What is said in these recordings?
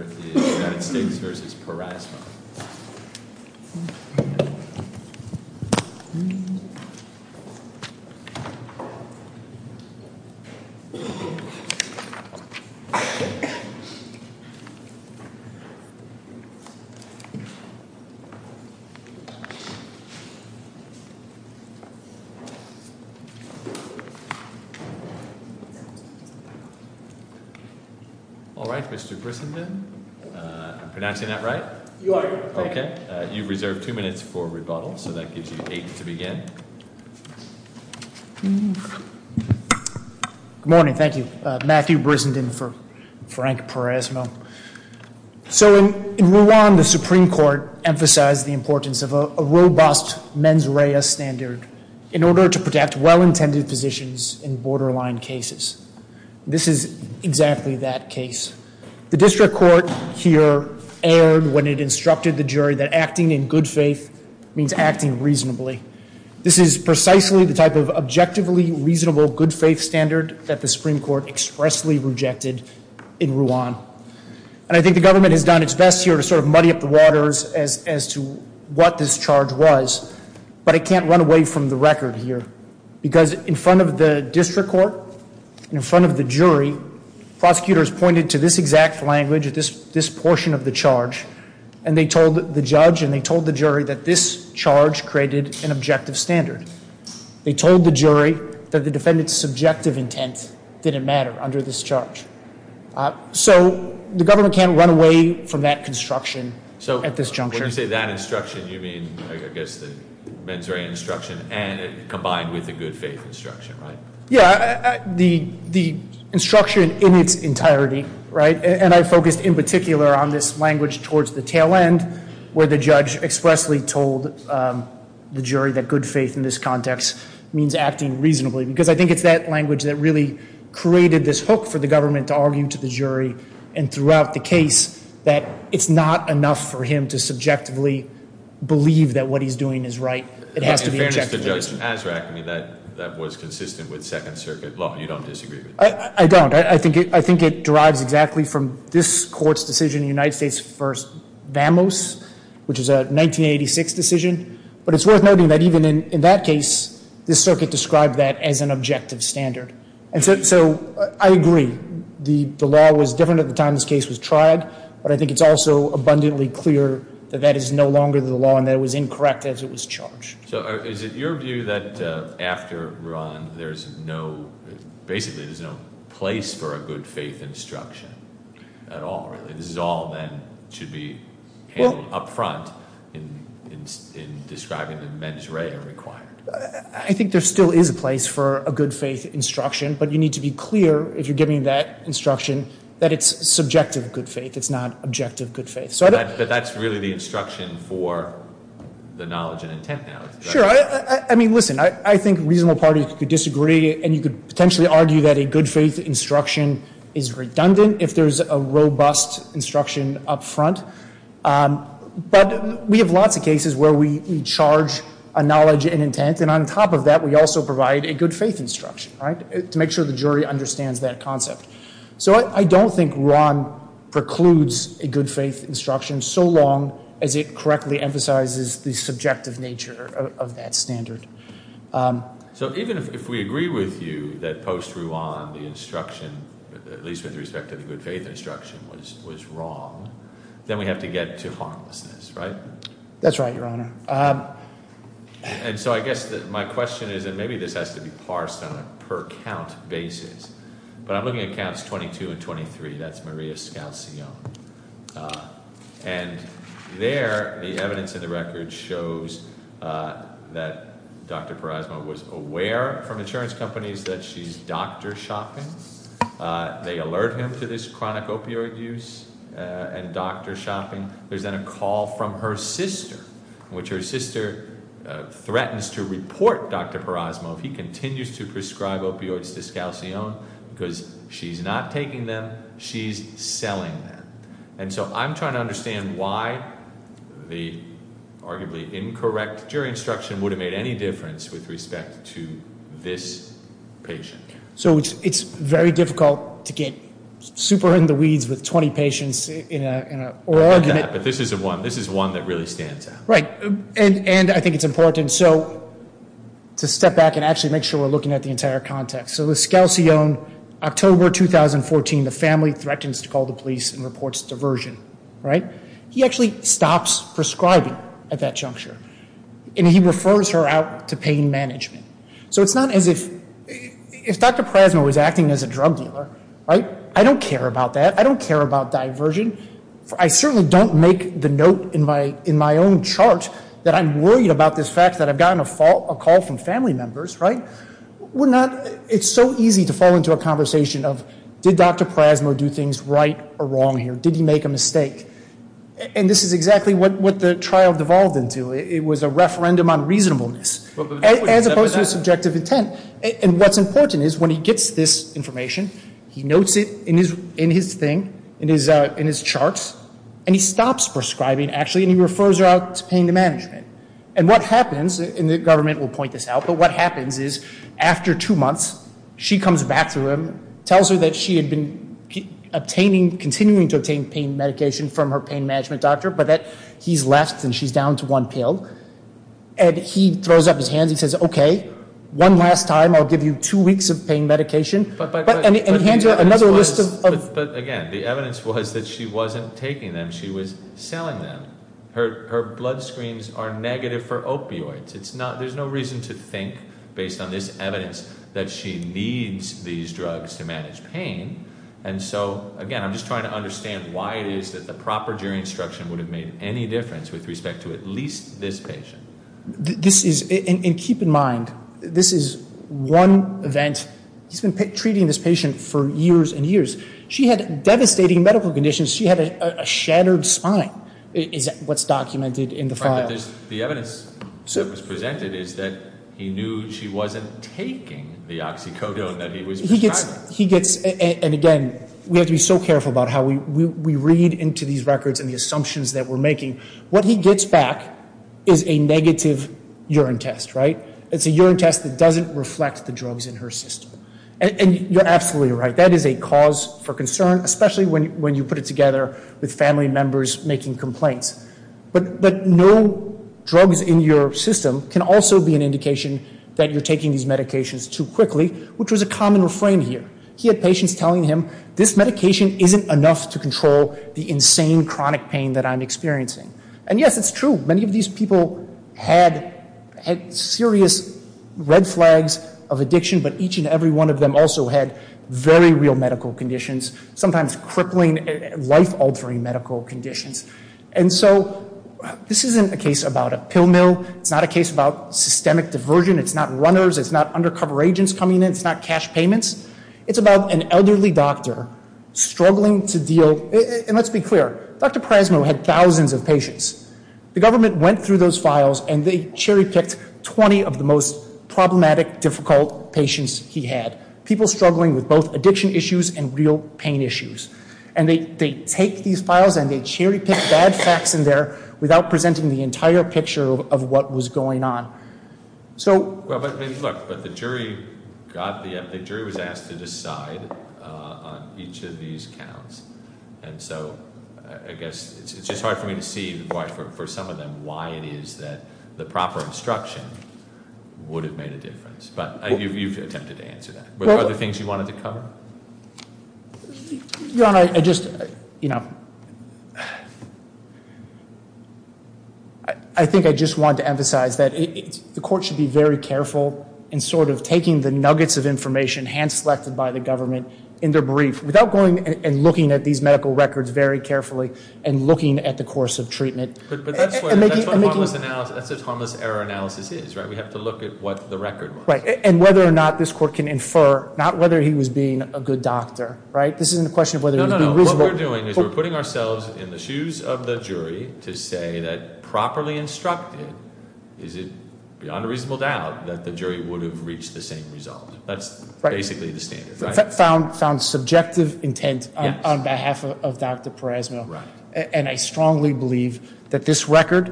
All right, Mr. Grissom, then. All right, Mr. Grissom, then. Am I pronouncing that right? You are. Okay. All right. You've reserved two minutes for rebuttal, so that gives you eight to begin. Good morning. Thank you. Matthew Brissenden for Frank Parasmo. So in Rwanda, the Supreme Court emphasized the importance of a robust mens rea standard in order to protect well-intended positions in borderline cases. This is exactly that case. The district court here erred when it instructed the jury that acting in good faith means acting reasonably. This is precisely the type of objectively reasonable good faith standard that the Supreme Court expressly rejected in Rwanda. And I think the government has done its best here to sort of muddy up the waters as to what this charge was, but it can't run away from the record here. Because in front of the district court and in front of the jury, prosecutors pointed to this exact language, this portion of the charge, and they told the judge and they told the jury that this charge created an objective standard. They told the jury that the defendant's subjective intent didn't matter under this charge. So the government can't run away from that construction at this juncture. When you say that instruction, you mean, I guess, the mens rea instruction combined with the good faith instruction, right? Yeah. The instruction in its entirety, right, and I focused in particular on this language towards the tail end where the judge expressly told the jury that good faith in this context means acting reasonably, because I think it's that language that really created this hook for the government to argue to the jury and throughout the case that it's not enough for him to subjectively believe that what he's doing is right. It has to be objective. In fairness to Judge Azraq, I mean, that was consistent with Second Circuit law. You don't disagree with that? I don't. I think it derives exactly from this court's decision in the United States v. Vamos, which is a 1986 decision. But it's worth noting that even in that case, this circuit described that as an objective standard. And so I agree. The law was different at the time this case was tried, but I think it's also abundantly clear that that is no longer the law and that it was incorrect as it was charged. So is it your view that after Ruan there's no, basically there's no place for a good faith instruction at all, really? This is all then should be handled up front in describing the mens rea required. I think there still is a place for a good faith instruction, but you need to be clear if you're giving that instruction that it's subjective good faith. It's not objective good faith. But that's really the instruction for the knowledge and intent now. Sure. I mean, listen, I think reasonable parties could disagree, and you could potentially argue that a good faith instruction is redundant if there's a robust instruction up front. But we have lots of cases where we charge a knowledge and intent, and on top of that we also provide a good faith instruction to make sure the jury understands that concept. So I don't think Ruan precludes a good faith instruction so long as it correctly emphasizes the subjective nature of that standard. So even if we agree with you that post Ruan the instruction, at least with respect to the good faith instruction, was wrong, then we have to get to harmlessness, right? That's right, Your Honor. And so I guess my question is, and maybe this has to be parsed on a per count basis, but I'm looking at counts 22 and 23. That's Maria Scalzione. And there the evidence in the record shows that Dr. Perasmo was aware from insurance companies that she's doctor shopping. They alert him to this chronic opioid use and doctor shopping. There's then a call from her sister in which her sister threatens to report Dr. Perasmo if he continues to prescribe opioids to Scalzione because she's not taking them. She's selling them. And so I'm trying to understand why the arguably incorrect jury instruction would have made any difference with respect to this patient. So it's very difficult to get super in the weeds with 20 patients in an argument. But this is one that really stands out. Right. And I think it's important to step back and actually make sure we're looking at the entire context. So with Scalzione, October 2014, the family threatens to call the police and reports diversion. Right. He actually stops prescribing at that juncture. And he refers her out to pain management. So it's not as if Dr. Perasmo was acting as a drug dealer. Right. I don't care about that. I don't care about diversion. I certainly don't make the note in my own chart that I'm worried about this fact that I've gotten a call from family members. Right. It's so easy to fall into a conversation of did Dr. Perasmo do things right or wrong here? Did he make a mistake? And this is exactly what the trial devolved into. It was a referendum on reasonableness as opposed to a subjective intent. And what's important is when he gets this information, he notes it in his thing, in his charts, and he stops prescribing, actually, and he refers her out to pain management. And what happens, and the government will point this out, but what happens is after two months, she comes back to him, tells her that she had been obtaining, continuing to obtain pain medication from her pain management doctor, but that he's left and she's down to one pill. And he throws up his hands. He says, okay, one last time, I'll give you two weeks of pain medication. But, again, the evidence was that she wasn't taking them. She was selling them. Her blood screens are negative for opioids. There's no reason to think, based on this evidence, that she needs these drugs to manage pain. And so, again, I'm just trying to understand why it is that the proper jury instruction would have made any difference with respect to at least this patient. This is, and keep in mind, this is one event. He's been treating this patient for years and years. She had devastating medical conditions. She had a shattered spine is what's documented in the file. But the evidence that was presented is that he knew she wasn't taking the oxycodone that he was prescribing. He gets, and again, we have to be so careful about how we read into these records and the assumptions that we're making. What he gets back is a negative urine test, right? It's a urine test that doesn't reflect the drugs in her system. And you're absolutely right. That is a cause for concern, especially when you put it together with family members making complaints. But no drugs in your system can also be an indication that you're taking these medications too quickly, which was a common refrain here. He had patients telling him, this medication isn't enough to control the insane chronic pain that I'm experiencing. And, yes, it's true. Many of these people had serious red flags of addiction, but each and every one of them also had very real medical conditions, sometimes crippling, life-altering medical conditions. And so this isn't a case about a pill mill. It's not a case about systemic diversion. It's not runners. It's not undercover agents coming in. It's not cash payments. It's about an elderly doctor struggling to deal. And let's be clear. Dr. Prasno had thousands of patients. The government went through those files, and they cherry-picked 20 of the most problematic, difficult patients he had, people struggling with both addiction issues and real pain issues. And they take these files, and they cherry-pick bad facts in there without presenting the entire picture of what was going on. Well, but, look, the jury was asked to decide on each of these counts. And so I guess it's just hard for me to see, for some of them, why it is that the proper instruction would have made a difference. But you've attempted to answer that. Were there other things you wanted to cover? Your Honor, I just, you know, I think I just want to emphasize that the court should be very careful in sort of taking the nuggets of information hand-selected by the government in their brief, without going and looking at these medical records very carefully and looking at the course of treatment. But that's what a harmless error analysis is, right? We have to look at what the record was. And whether or not this court can infer, not whether he was being a good doctor, right? This isn't a question of whether he was being reasonable. What we're doing is we're putting ourselves in the shoes of the jury to say that, properly instructed, is it beyond a reasonable doubt that the jury would have reached the same result. That's basically the standard, right? I found subjective intent on behalf of Dr. Peresma. Right. And I strongly believe that this record,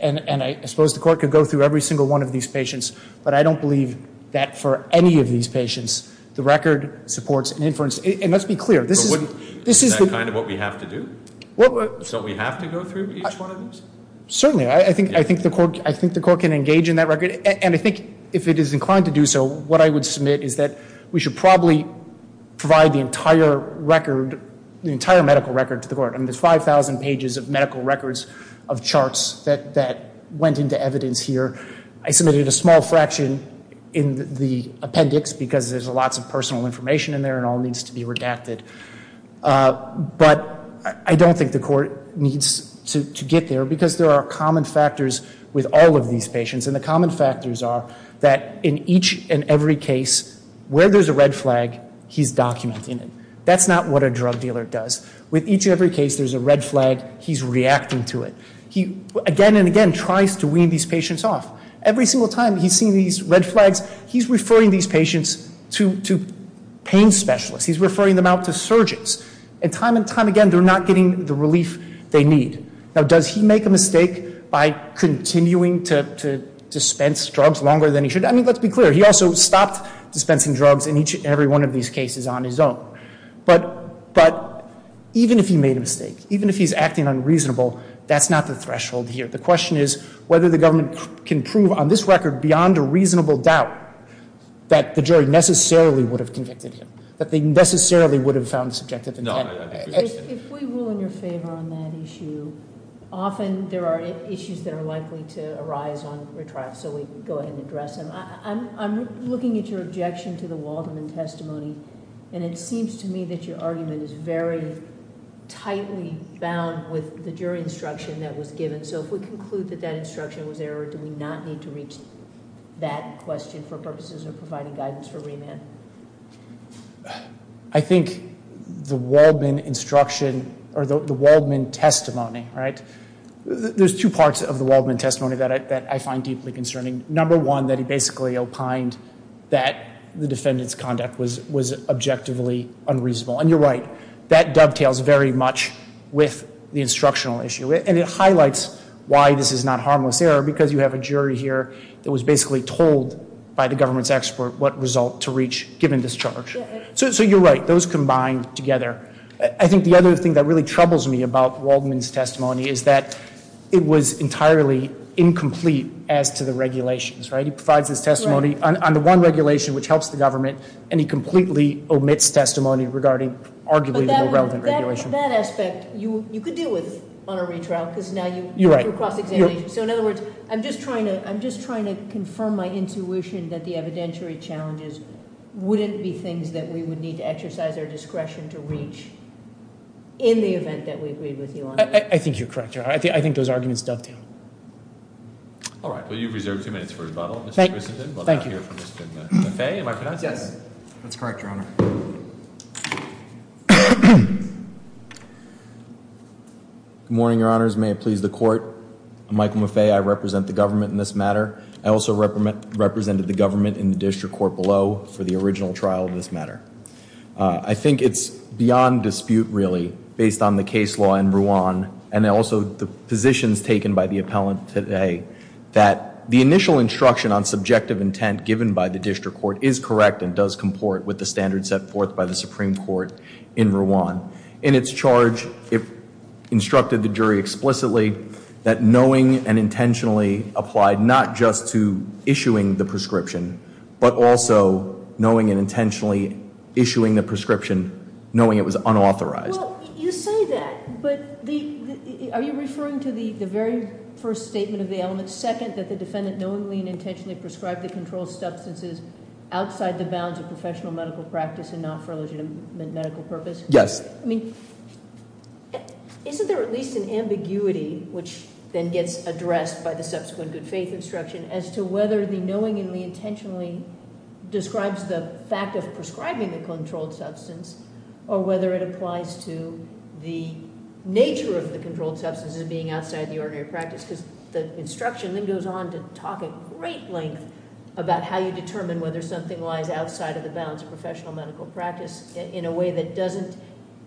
and I suppose the court could go through every single one of these patients, but I don't believe that for any of these patients the record supports an inference. And let's be clear. Is that kind of what we have to do? Don't we have to go through each one of these? Certainly. I think the court can engage in that record. And I think if it is inclined to do so, what I would submit is that we should probably provide the entire record, the entire medical record to the court. I mean, there's 5,000 pages of medical records of charts that went into evidence here. I submitted a small fraction in the appendix because there's lots of personal information in there and it all needs to be redacted. But I don't think the court needs to get there because there are common factors with all of these patients. And the common factors are that in each and every case where there's a red flag, he's documenting it. That's not what a drug dealer does. With each and every case there's a red flag, he's reacting to it. He again and again tries to wean these patients off. Every single time he's seen these red flags, he's referring these patients to pain specialists. He's referring them out to surgeons. And time and time again they're not getting the relief they need. Now, does he make a mistake by continuing to dispense drugs longer than he should? I mean, let's be clear. He also stopped dispensing drugs in each and every one of these cases on his own. But even if he made a mistake, even if he's acting unreasonable, that's not the threshold here. The question is whether the government can prove on this record beyond a reasonable doubt that the jury necessarily would have convicted him, that they necessarily would have found subjective intent. If we rule in your favor on that issue, often there are issues that are likely to arise on retrial, so we go ahead and address them. I'm looking at your objection to the Waldman testimony, and it seems to me that your argument is very tightly bound with the jury instruction that was given. So if we conclude that that instruction was error, do we not need to reach that question for purposes of providing guidance for remand? I think the Waldman instruction, or the Waldman testimony, right? There's two parts of the Waldman testimony that I find deeply concerning. Number one, that he basically opined that the defendant's conduct was objectively unreasonable. And you're right, that dovetails very much with the instructional issue. And it highlights why this is not harmless error, because you have a jury here that was basically told by the government's expert what result to reach given this charge. So you're right, those combine together. I think the other thing that really troubles me about Waldman's testimony is that it was entirely incomplete as to the regulations, right? He provides his testimony on the one regulation which helps the government, and he completely omits testimony regarding arguably the irrelevant regulation. But that aspect, you could deal with on a retrial, because now you- You're right. So in other words, I'm just trying to confirm my intuition that the evidentiary challenges wouldn't be things that we would need to exercise our discretion to reach in the event that we agreed with you on. I think you're correct, Your Honor. I think those arguments dovetail. All right. Well, you've reserved two minutes for rebuttal, Mr. Christensen. Thank you. We'll now hear from Mr. Lefebvre. Am I pronouncing that? Yes, that's correct, Your Honor. Good morning, Your Honors. May it please the Court. I'm Michael Lefebvre. I represent the government in this matter. I also represented the government in the district court below for the original trial of this matter. I think it's beyond dispute, really, based on the case law in Rouen, and also the positions taken by the appellant today, that the initial instruction on subjective intent given by the district court is correct and does comport with the standards set forth by the Supreme Court in Rouen. In its charge, it instructed the jury explicitly that knowing and intentionally applied not just to issuing the prescription, but also knowing and intentionally issuing the prescription, knowing it was unauthorized. Well, you say that, but are you referring to the very first statement of the element, second, that the defendant knowingly and intentionally prescribed the controlled substances outside the bounds of professional medical practice and not for a legitimate medical purpose? Yes. I mean, isn't there at least an ambiguity, which then gets addressed by the subsequent good faith instruction, as to whether the knowingly and intentionally describes the fact of prescribing the controlled substance or whether it applies to the nature of the controlled substance as being outside the ordinary practice? Because the instruction then goes on to talk at great length about how you determine whether something lies outside of the bounds of professional medical practice in a way that doesn't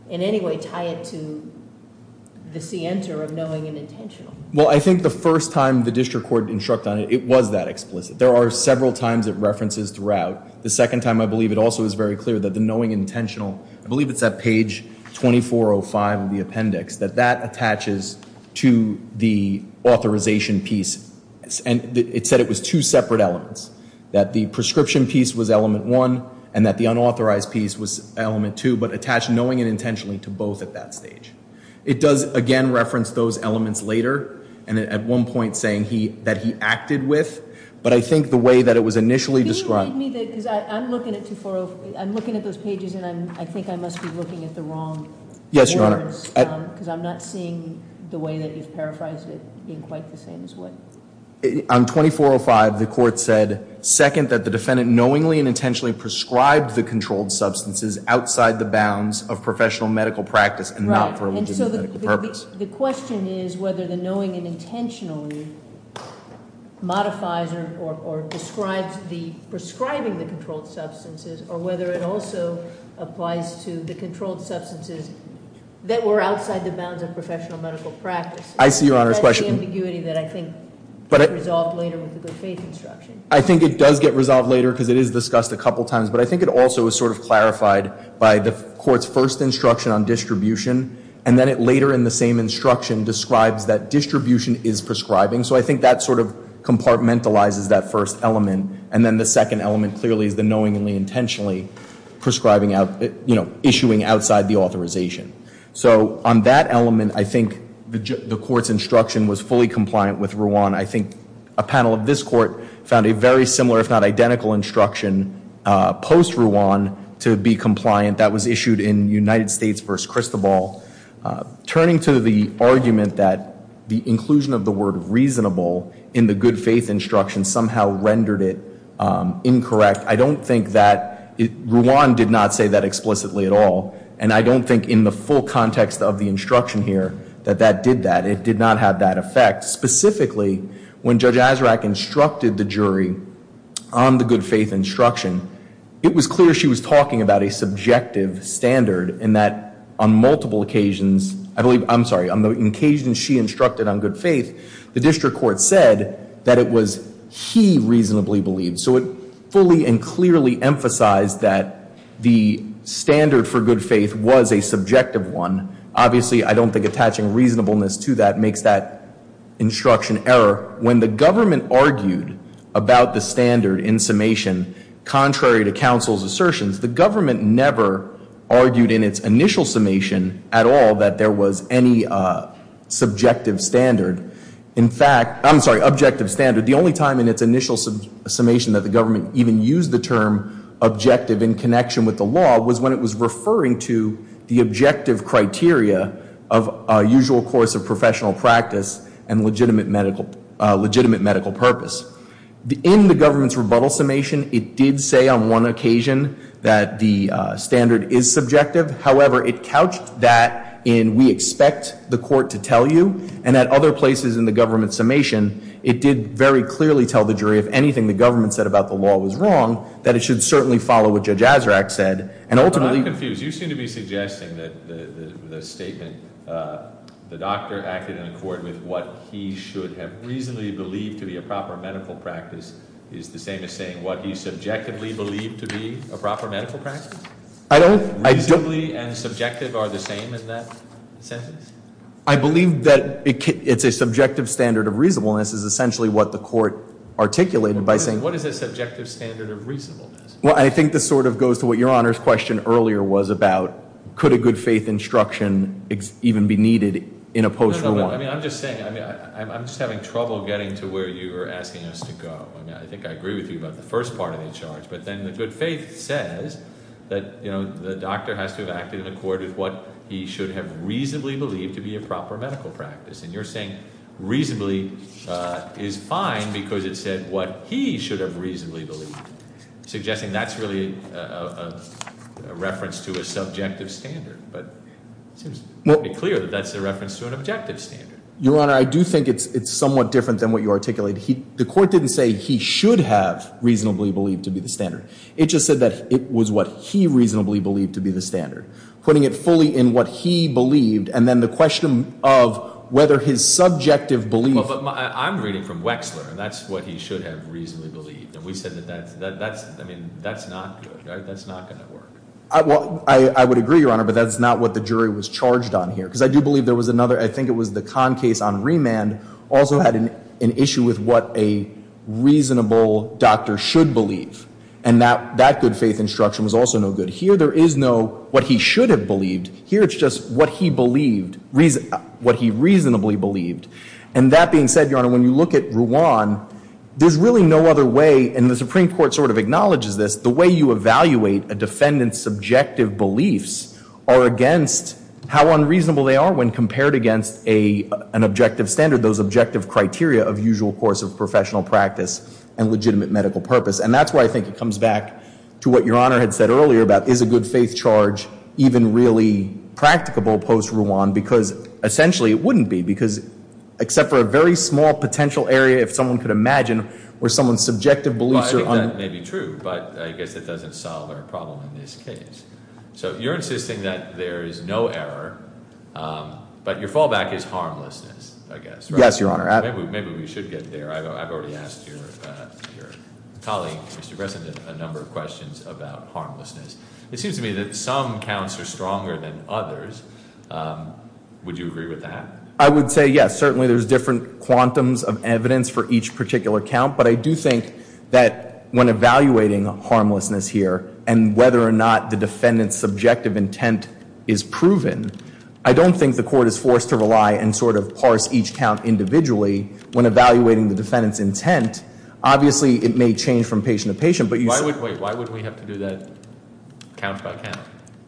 in any way tie it to the scienter of knowing and intentional. Well, I think the first time the district court instructed on it, it was that explicit. There are several times it references throughout. The second time, I believe, it also is very clear that the knowing and intentional, I believe it's at page 2405 of the appendix, that that attaches to the authorization piece, and it said it was two separate elements, that the prescription piece was element one and that the unauthorized piece was element two, but attached knowing and intentionally to both at that stage. It does, again, reference those elements later, and at one point saying that he acted with, but I think the way that it was initially described. Can you read me that? Because I'm looking at 2405. I'm looking at those pages, and I think I must be looking at the wrong words. Yes, Your Honor. Because I'm not seeing the way that you've paraphrased it in quite the same way. On 2405, the court said, second, that the defendant knowingly and intentionally prescribed the controlled substances outside the bounds of professional medical practice and not for a legitimate medical purpose. So the question is whether the knowing and intentionally modifies or describes the prescribing the controlled substances or whether it also applies to the controlled substances that were outside the bounds of professional medical practice. I see Your Honor's question. That's the ambiguity that I think gets resolved later with the good faith instruction. I think it does get resolved later because it is discussed a couple times, but I think it also is sort of clarified by the court's first instruction on distribution, and then it later in the same instruction describes that distribution is prescribing. So I think that sort of compartmentalizes that first element, and then the second element clearly is the knowingly and intentionally prescribing out, you know, issuing outside the authorization. So on that element, I think the court's instruction was fully compliant with Ruan. I think a panel of this court found a very similar, if not identical, instruction post-Ruan to be compliant. That was issued in United States v. Cristobal. Turning to the argument that the inclusion of the word reasonable in the good faith instruction somehow rendered it incorrect, I don't think that Ruan did not say that explicitly at all, and I don't think in the full context of the instruction here that that did that. It did not have that effect. Specifically, when Judge Azraq instructed the jury on the good faith instruction, it was clear she was talking about a subjective standard and that on multiple occasions, I believe, I'm sorry, on the occasions she instructed on good faith, the district court said that it was he reasonably believed. So it fully and clearly emphasized that the standard for good faith was a subjective one. Obviously, I don't think attaching reasonableness to that makes that instruction error. When the government argued about the standard in summation, contrary to counsel's assertions, the government never argued in its initial summation at all that there was any subjective standard. In fact, I'm sorry, objective standard. The only time in its initial summation that the government even used the term objective in connection with the law legitimate medical purpose. In the government's rebuttal summation, it did say on one occasion that the standard is subjective. However, it couched that in we expect the court to tell you, and at other places in the government's summation, it did very clearly tell the jury if anything the government said about the law was wrong, that it should certainly follow what Judge Azraq said. And ultimately- I'm confused. You seem to be suggesting that the statement the doctor acted in accord with what he should have reasonably believed to be a proper medical practice is the same as saying what he subjectively believed to be a proper medical practice? I don't- Reasonably and subjective are the same in that sentence? I believe that it's a subjective standard of reasonableness is essentially what the court articulated by saying- What is a subjective standard of reasonableness? Well, I think this sort of goes to what Your Honor's question earlier was about. Could a good faith instruction even be needed in a post-reward? I'm just saying, I'm just having trouble getting to where you were asking us to go. I think I agree with you about the first part of the charge. But then the good faith says that the doctor has to have acted in accord with what he should have reasonably believed to be a proper medical practice. And you're saying reasonably is fine because it said what he should have reasonably believed, suggesting that's really a reference to a subjective standard. But it seems pretty clear that that's a reference to an objective standard. Your Honor, I do think it's somewhat different than what you articulated. The court didn't say he should have reasonably believed to be the standard. It just said that it was what he reasonably believed to be the standard. Putting it fully in what he believed and then the question of whether his subjective belief- Well, but I'm reading from Wexler, and that's what he should have reasonably believed. And we said that that's, I mean, that's not good. That's not going to work. Well, I would agree, Your Honor, but that's not what the jury was charged on here. Because I do believe there was another, I think it was the Kahn case on remand, also had an issue with what a reasonable doctor should believe. And that good faith instruction was also no good. Here there is no what he should have believed. Here it's just what he believed, what he reasonably believed. And that being said, Your Honor, when you look at Ruan, there's really no other way, and the Supreme Court sort of acknowledges this, the way you evaluate a defendant's subjective beliefs are against how unreasonable they are when compared against an objective standard, those objective criteria of usual course of professional practice and legitimate medical purpose. And that's why I think it comes back to what Your Honor had said earlier about is a good faith charge even really practicable post-Ruan? Because essentially it wouldn't be, because except for a very small potential area if someone could imagine where someone's subjective beliefs are- Well, I think that may be true, but I guess it doesn't solve our problem in this case. So you're insisting that there is no error, but your fallback is harmlessness, I guess, right? Yes, Your Honor. Maybe we should get there. I've already asked your colleague, Mr. Bresson, a number of questions about harmlessness. It seems to me that some counts are stronger than others. Would you agree with that? I would say yes. Certainly there's different quantums of evidence for each particular count, but I do think that when evaluating harmlessness here and whether or not the defendant's subjective intent is proven, I don't think the court is forced to rely and sort of parse each count individually when evaluating the defendant's intent. Obviously it may change from patient to patient, but you- Wait, why would we have to do that count by count?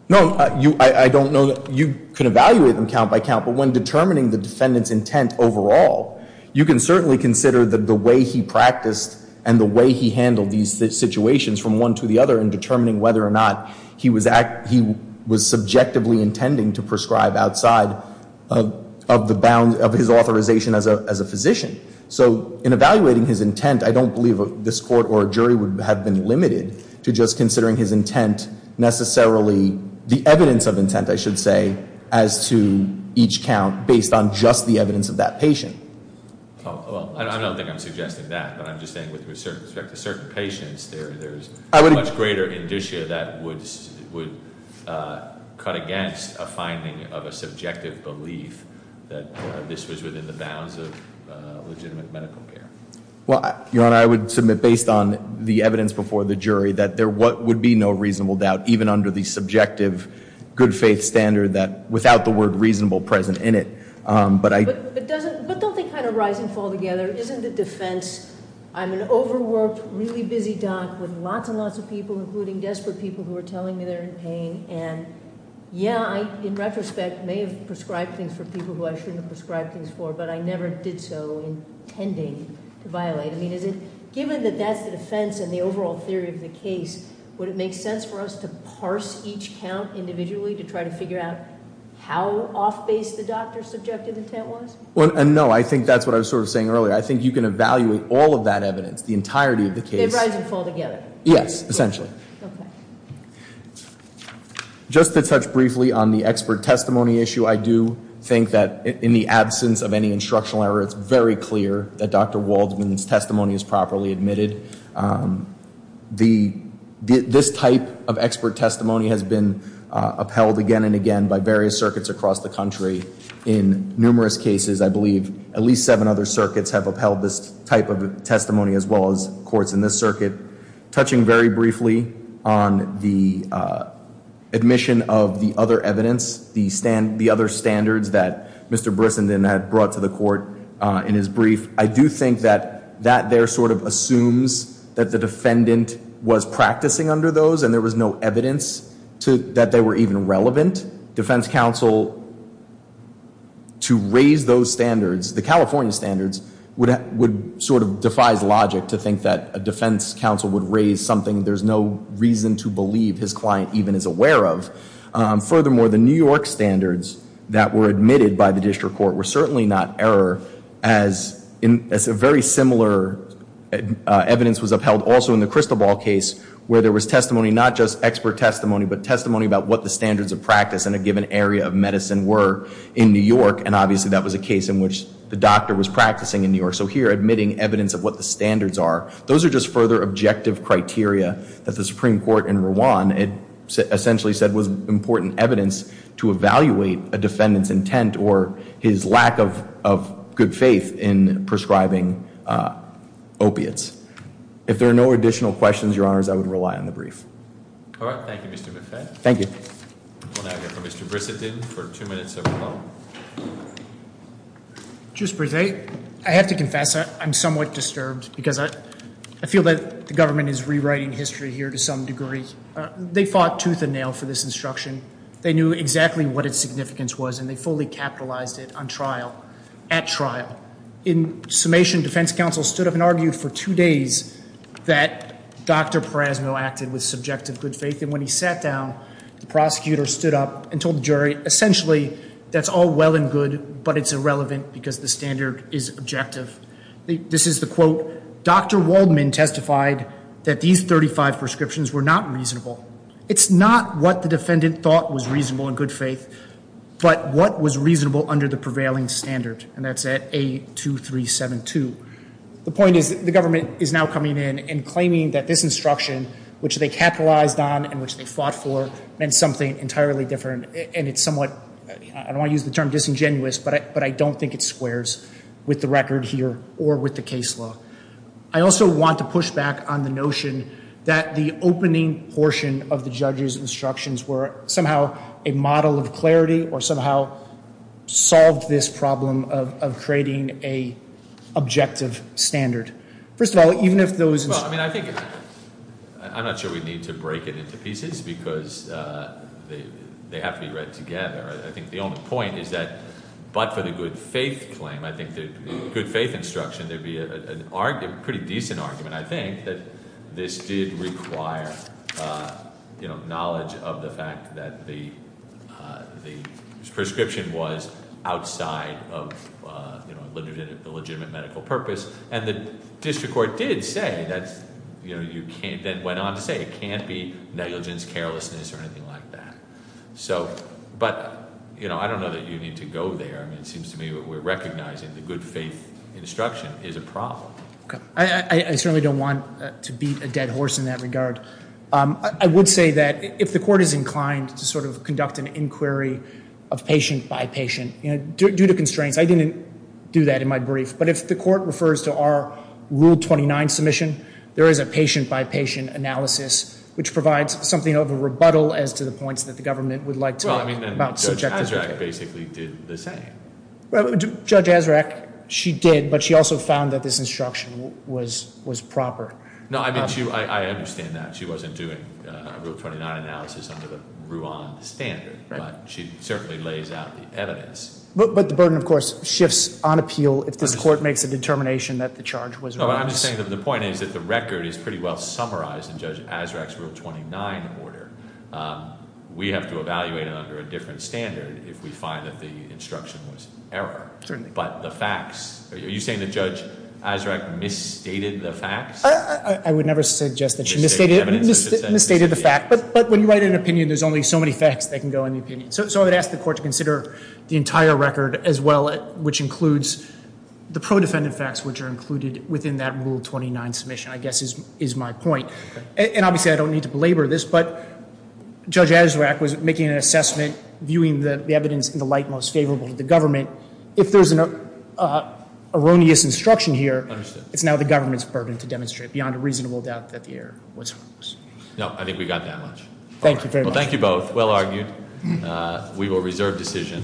No, I don't know. You can evaluate them count by count, but when determining the defendant's intent overall, you can certainly consider the way he practiced and the way he handled these situations from one to the other in determining whether or not he was subjectively intending to prescribe outside of his authorization as a physician. So in evaluating his intent, I don't believe this court or jury would have been limited to just considering his intent necessarily, the evidence of intent I should say, as to each count based on just the evidence of that patient. I don't think I'm suggesting that, but I'm just saying with respect to certain patients, there's much greater indicia that would cut against a finding of a subjective belief that this was within the bounds of legitimate medical care. Your Honor, I would submit based on the evidence before the jury that there would be no reasonable doubt, even under the subjective good faith standard without the word reasonable present in it. But don't they kind of rise and fall together? Isn't it defense? I'm an overworked, really busy doc with lots and lots of people, including desperate people who are telling me they're in pain. And yeah, in retrospect, I may have prescribed things for people who I shouldn't have prescribed things for, but I never did so intending to violate. I mean, given that that's the defense and the overall theory of the case, would it make sense for us to parse each count individually to try to figure out how off base the doctor's subjective intent was? No, I think that's what I was sort of saying earlier. I think you can evaluate all of that evidence, the entirety of the case. They rise and fall together? Yes, essentially. Okay. Just to touch briefly on the expert testimony issue, I do think that in the absence of any instructional error, it's very clear that Dr. Waldman's testimony is properly admitted. This type of expert testimony has been upheld again and again by various circuits across the country in numerous cases. I believe at least seven other circuits have upheld this type of testimony as well as courts in this circuit. Touching very briefly on the admission of the other evidence, the other standards that Mr. Brissenden had brought to the court in his brief, I do think that that there sort of assumes that the defendant was practicing under those and there was no evidence that they were even relevant. Defense counsel, to raise those standards, the California standards, sort of defies logic to think that a defense counsel would raise something there's no reason to believe his client even is aware of. Furthermore, the New York standards that were admitted by the district court were certainly not error, as very similar evidence was upheld also in the Crystal Ball case, where there was testimony, not just expert testimony, but testimony about what the standards of practice in a given area of medicine were in New York, and obviously that was a case in which the doctor was practicing in New York. So here, admitting evidence of what the standards are, those are just further objective criteria that the Supreme Court in Rwan essentially said was important evidence to evaluate a defendant's intent or his lack of good faith in prescribing opiates. If there are no additional questions, Your Honors, I would rely on the brief. All right. Thank you, Mr. McFadden. Thank you. We'll now go to Mr. Brissett for two minutes of rebuttal. Justice Brissett, I have to confess I'm somewhat disturbed because I feel that the government is rewriting history here to some degree. They fought tooth and nail for this instruction. They knew exactly what its significance was, and they fully capitalized it on trial, at trial. In summation, defense counsel stood up and argued for two days that Dr. Prasno acted with subjective good faith, and when he sat down, the prosecutor stood up and told the jury, essentially, that's all well and good, but it's irrelevant because the standard is objective. This is the quote, Dr. Waldman testified that these 35 prescriptions were not reasonable. It's not what the defendant thought was reasonable in good faith, but what was reasonable under the prevailing standard, and that's at A2372. The point is the government is now coming in and claiming that this instruction, which they capitalized on and which they fought for, meant something entirely different, and it's somewhat, I don't want to use the term disingenuous, but I don't think it squares with the record here or with the case law. I also want to push back on the notion that the opening portion of the judge's instructions were somehow a model of clarity or somehow solved this problem of creating an objective standard. First of all, even if those instructions- I'm not sure we need to break it into pieces because they have to be read together. I think the only point is that but for the good faith claim, I think the good faith instruction, there would be a pretty decent argument, I think, that this did require knowledge of the fact that the prescription was outside of the legitimate medical purpose and the district court did say that it can't be negligence, carelessness, or anything like that. But I don't know that you need to go there. It seems to me that we're recognizing the good faith instruction is a problem. I certainly don't want to beat a dead horse in that regard. I would say that if the court is inclined to conduct an inquiry of patient by patient due to constraints, I didn't do that in my brief, but if the court refers to our Rule 29 submission, there is a patient by patient analysis which provides something of a rebuttal as to the points that the government would like to- Well, I mean Judge Azraq basically did the same. Judge Azraq, she did, but she also found that this instruction was proper. No, I understand that. She wasn't doing a Rule 29 analysis under the Ruan standard, but she certainly lays out the evidence. But the burden, of course, shifts on appeal if this court makes a determination that the charge was wrong. I'm just saying that the point is that the record is pretty well summarized in Judge Azraq's Rule 29 order. We have to evaluate it under a different standard if we find that the instruction was error. Certainly. But the facts, are you saying that Judge Azraq misstated the facts? I would never suggest that she misstated the fact, but when you write an opinion, there's only so many facts that can go in the opinion. So I would ask the court to consider the entire record as well, which includes the pro-defendant facts, which are included within that Rule 29 submission, I guess is my point. And obviously, I don't need to belabor this, but Judge Azraq was making an assessment, viewing the evidence in the light most favorable to the government. If there's an erroneous instruction here- It's now the government's burden to demonstrate beyond a reasonable doubt that the error was wrong. No, I think we got that much. Thank you very much. Well, thank you both. Well argued. We will reserve decision.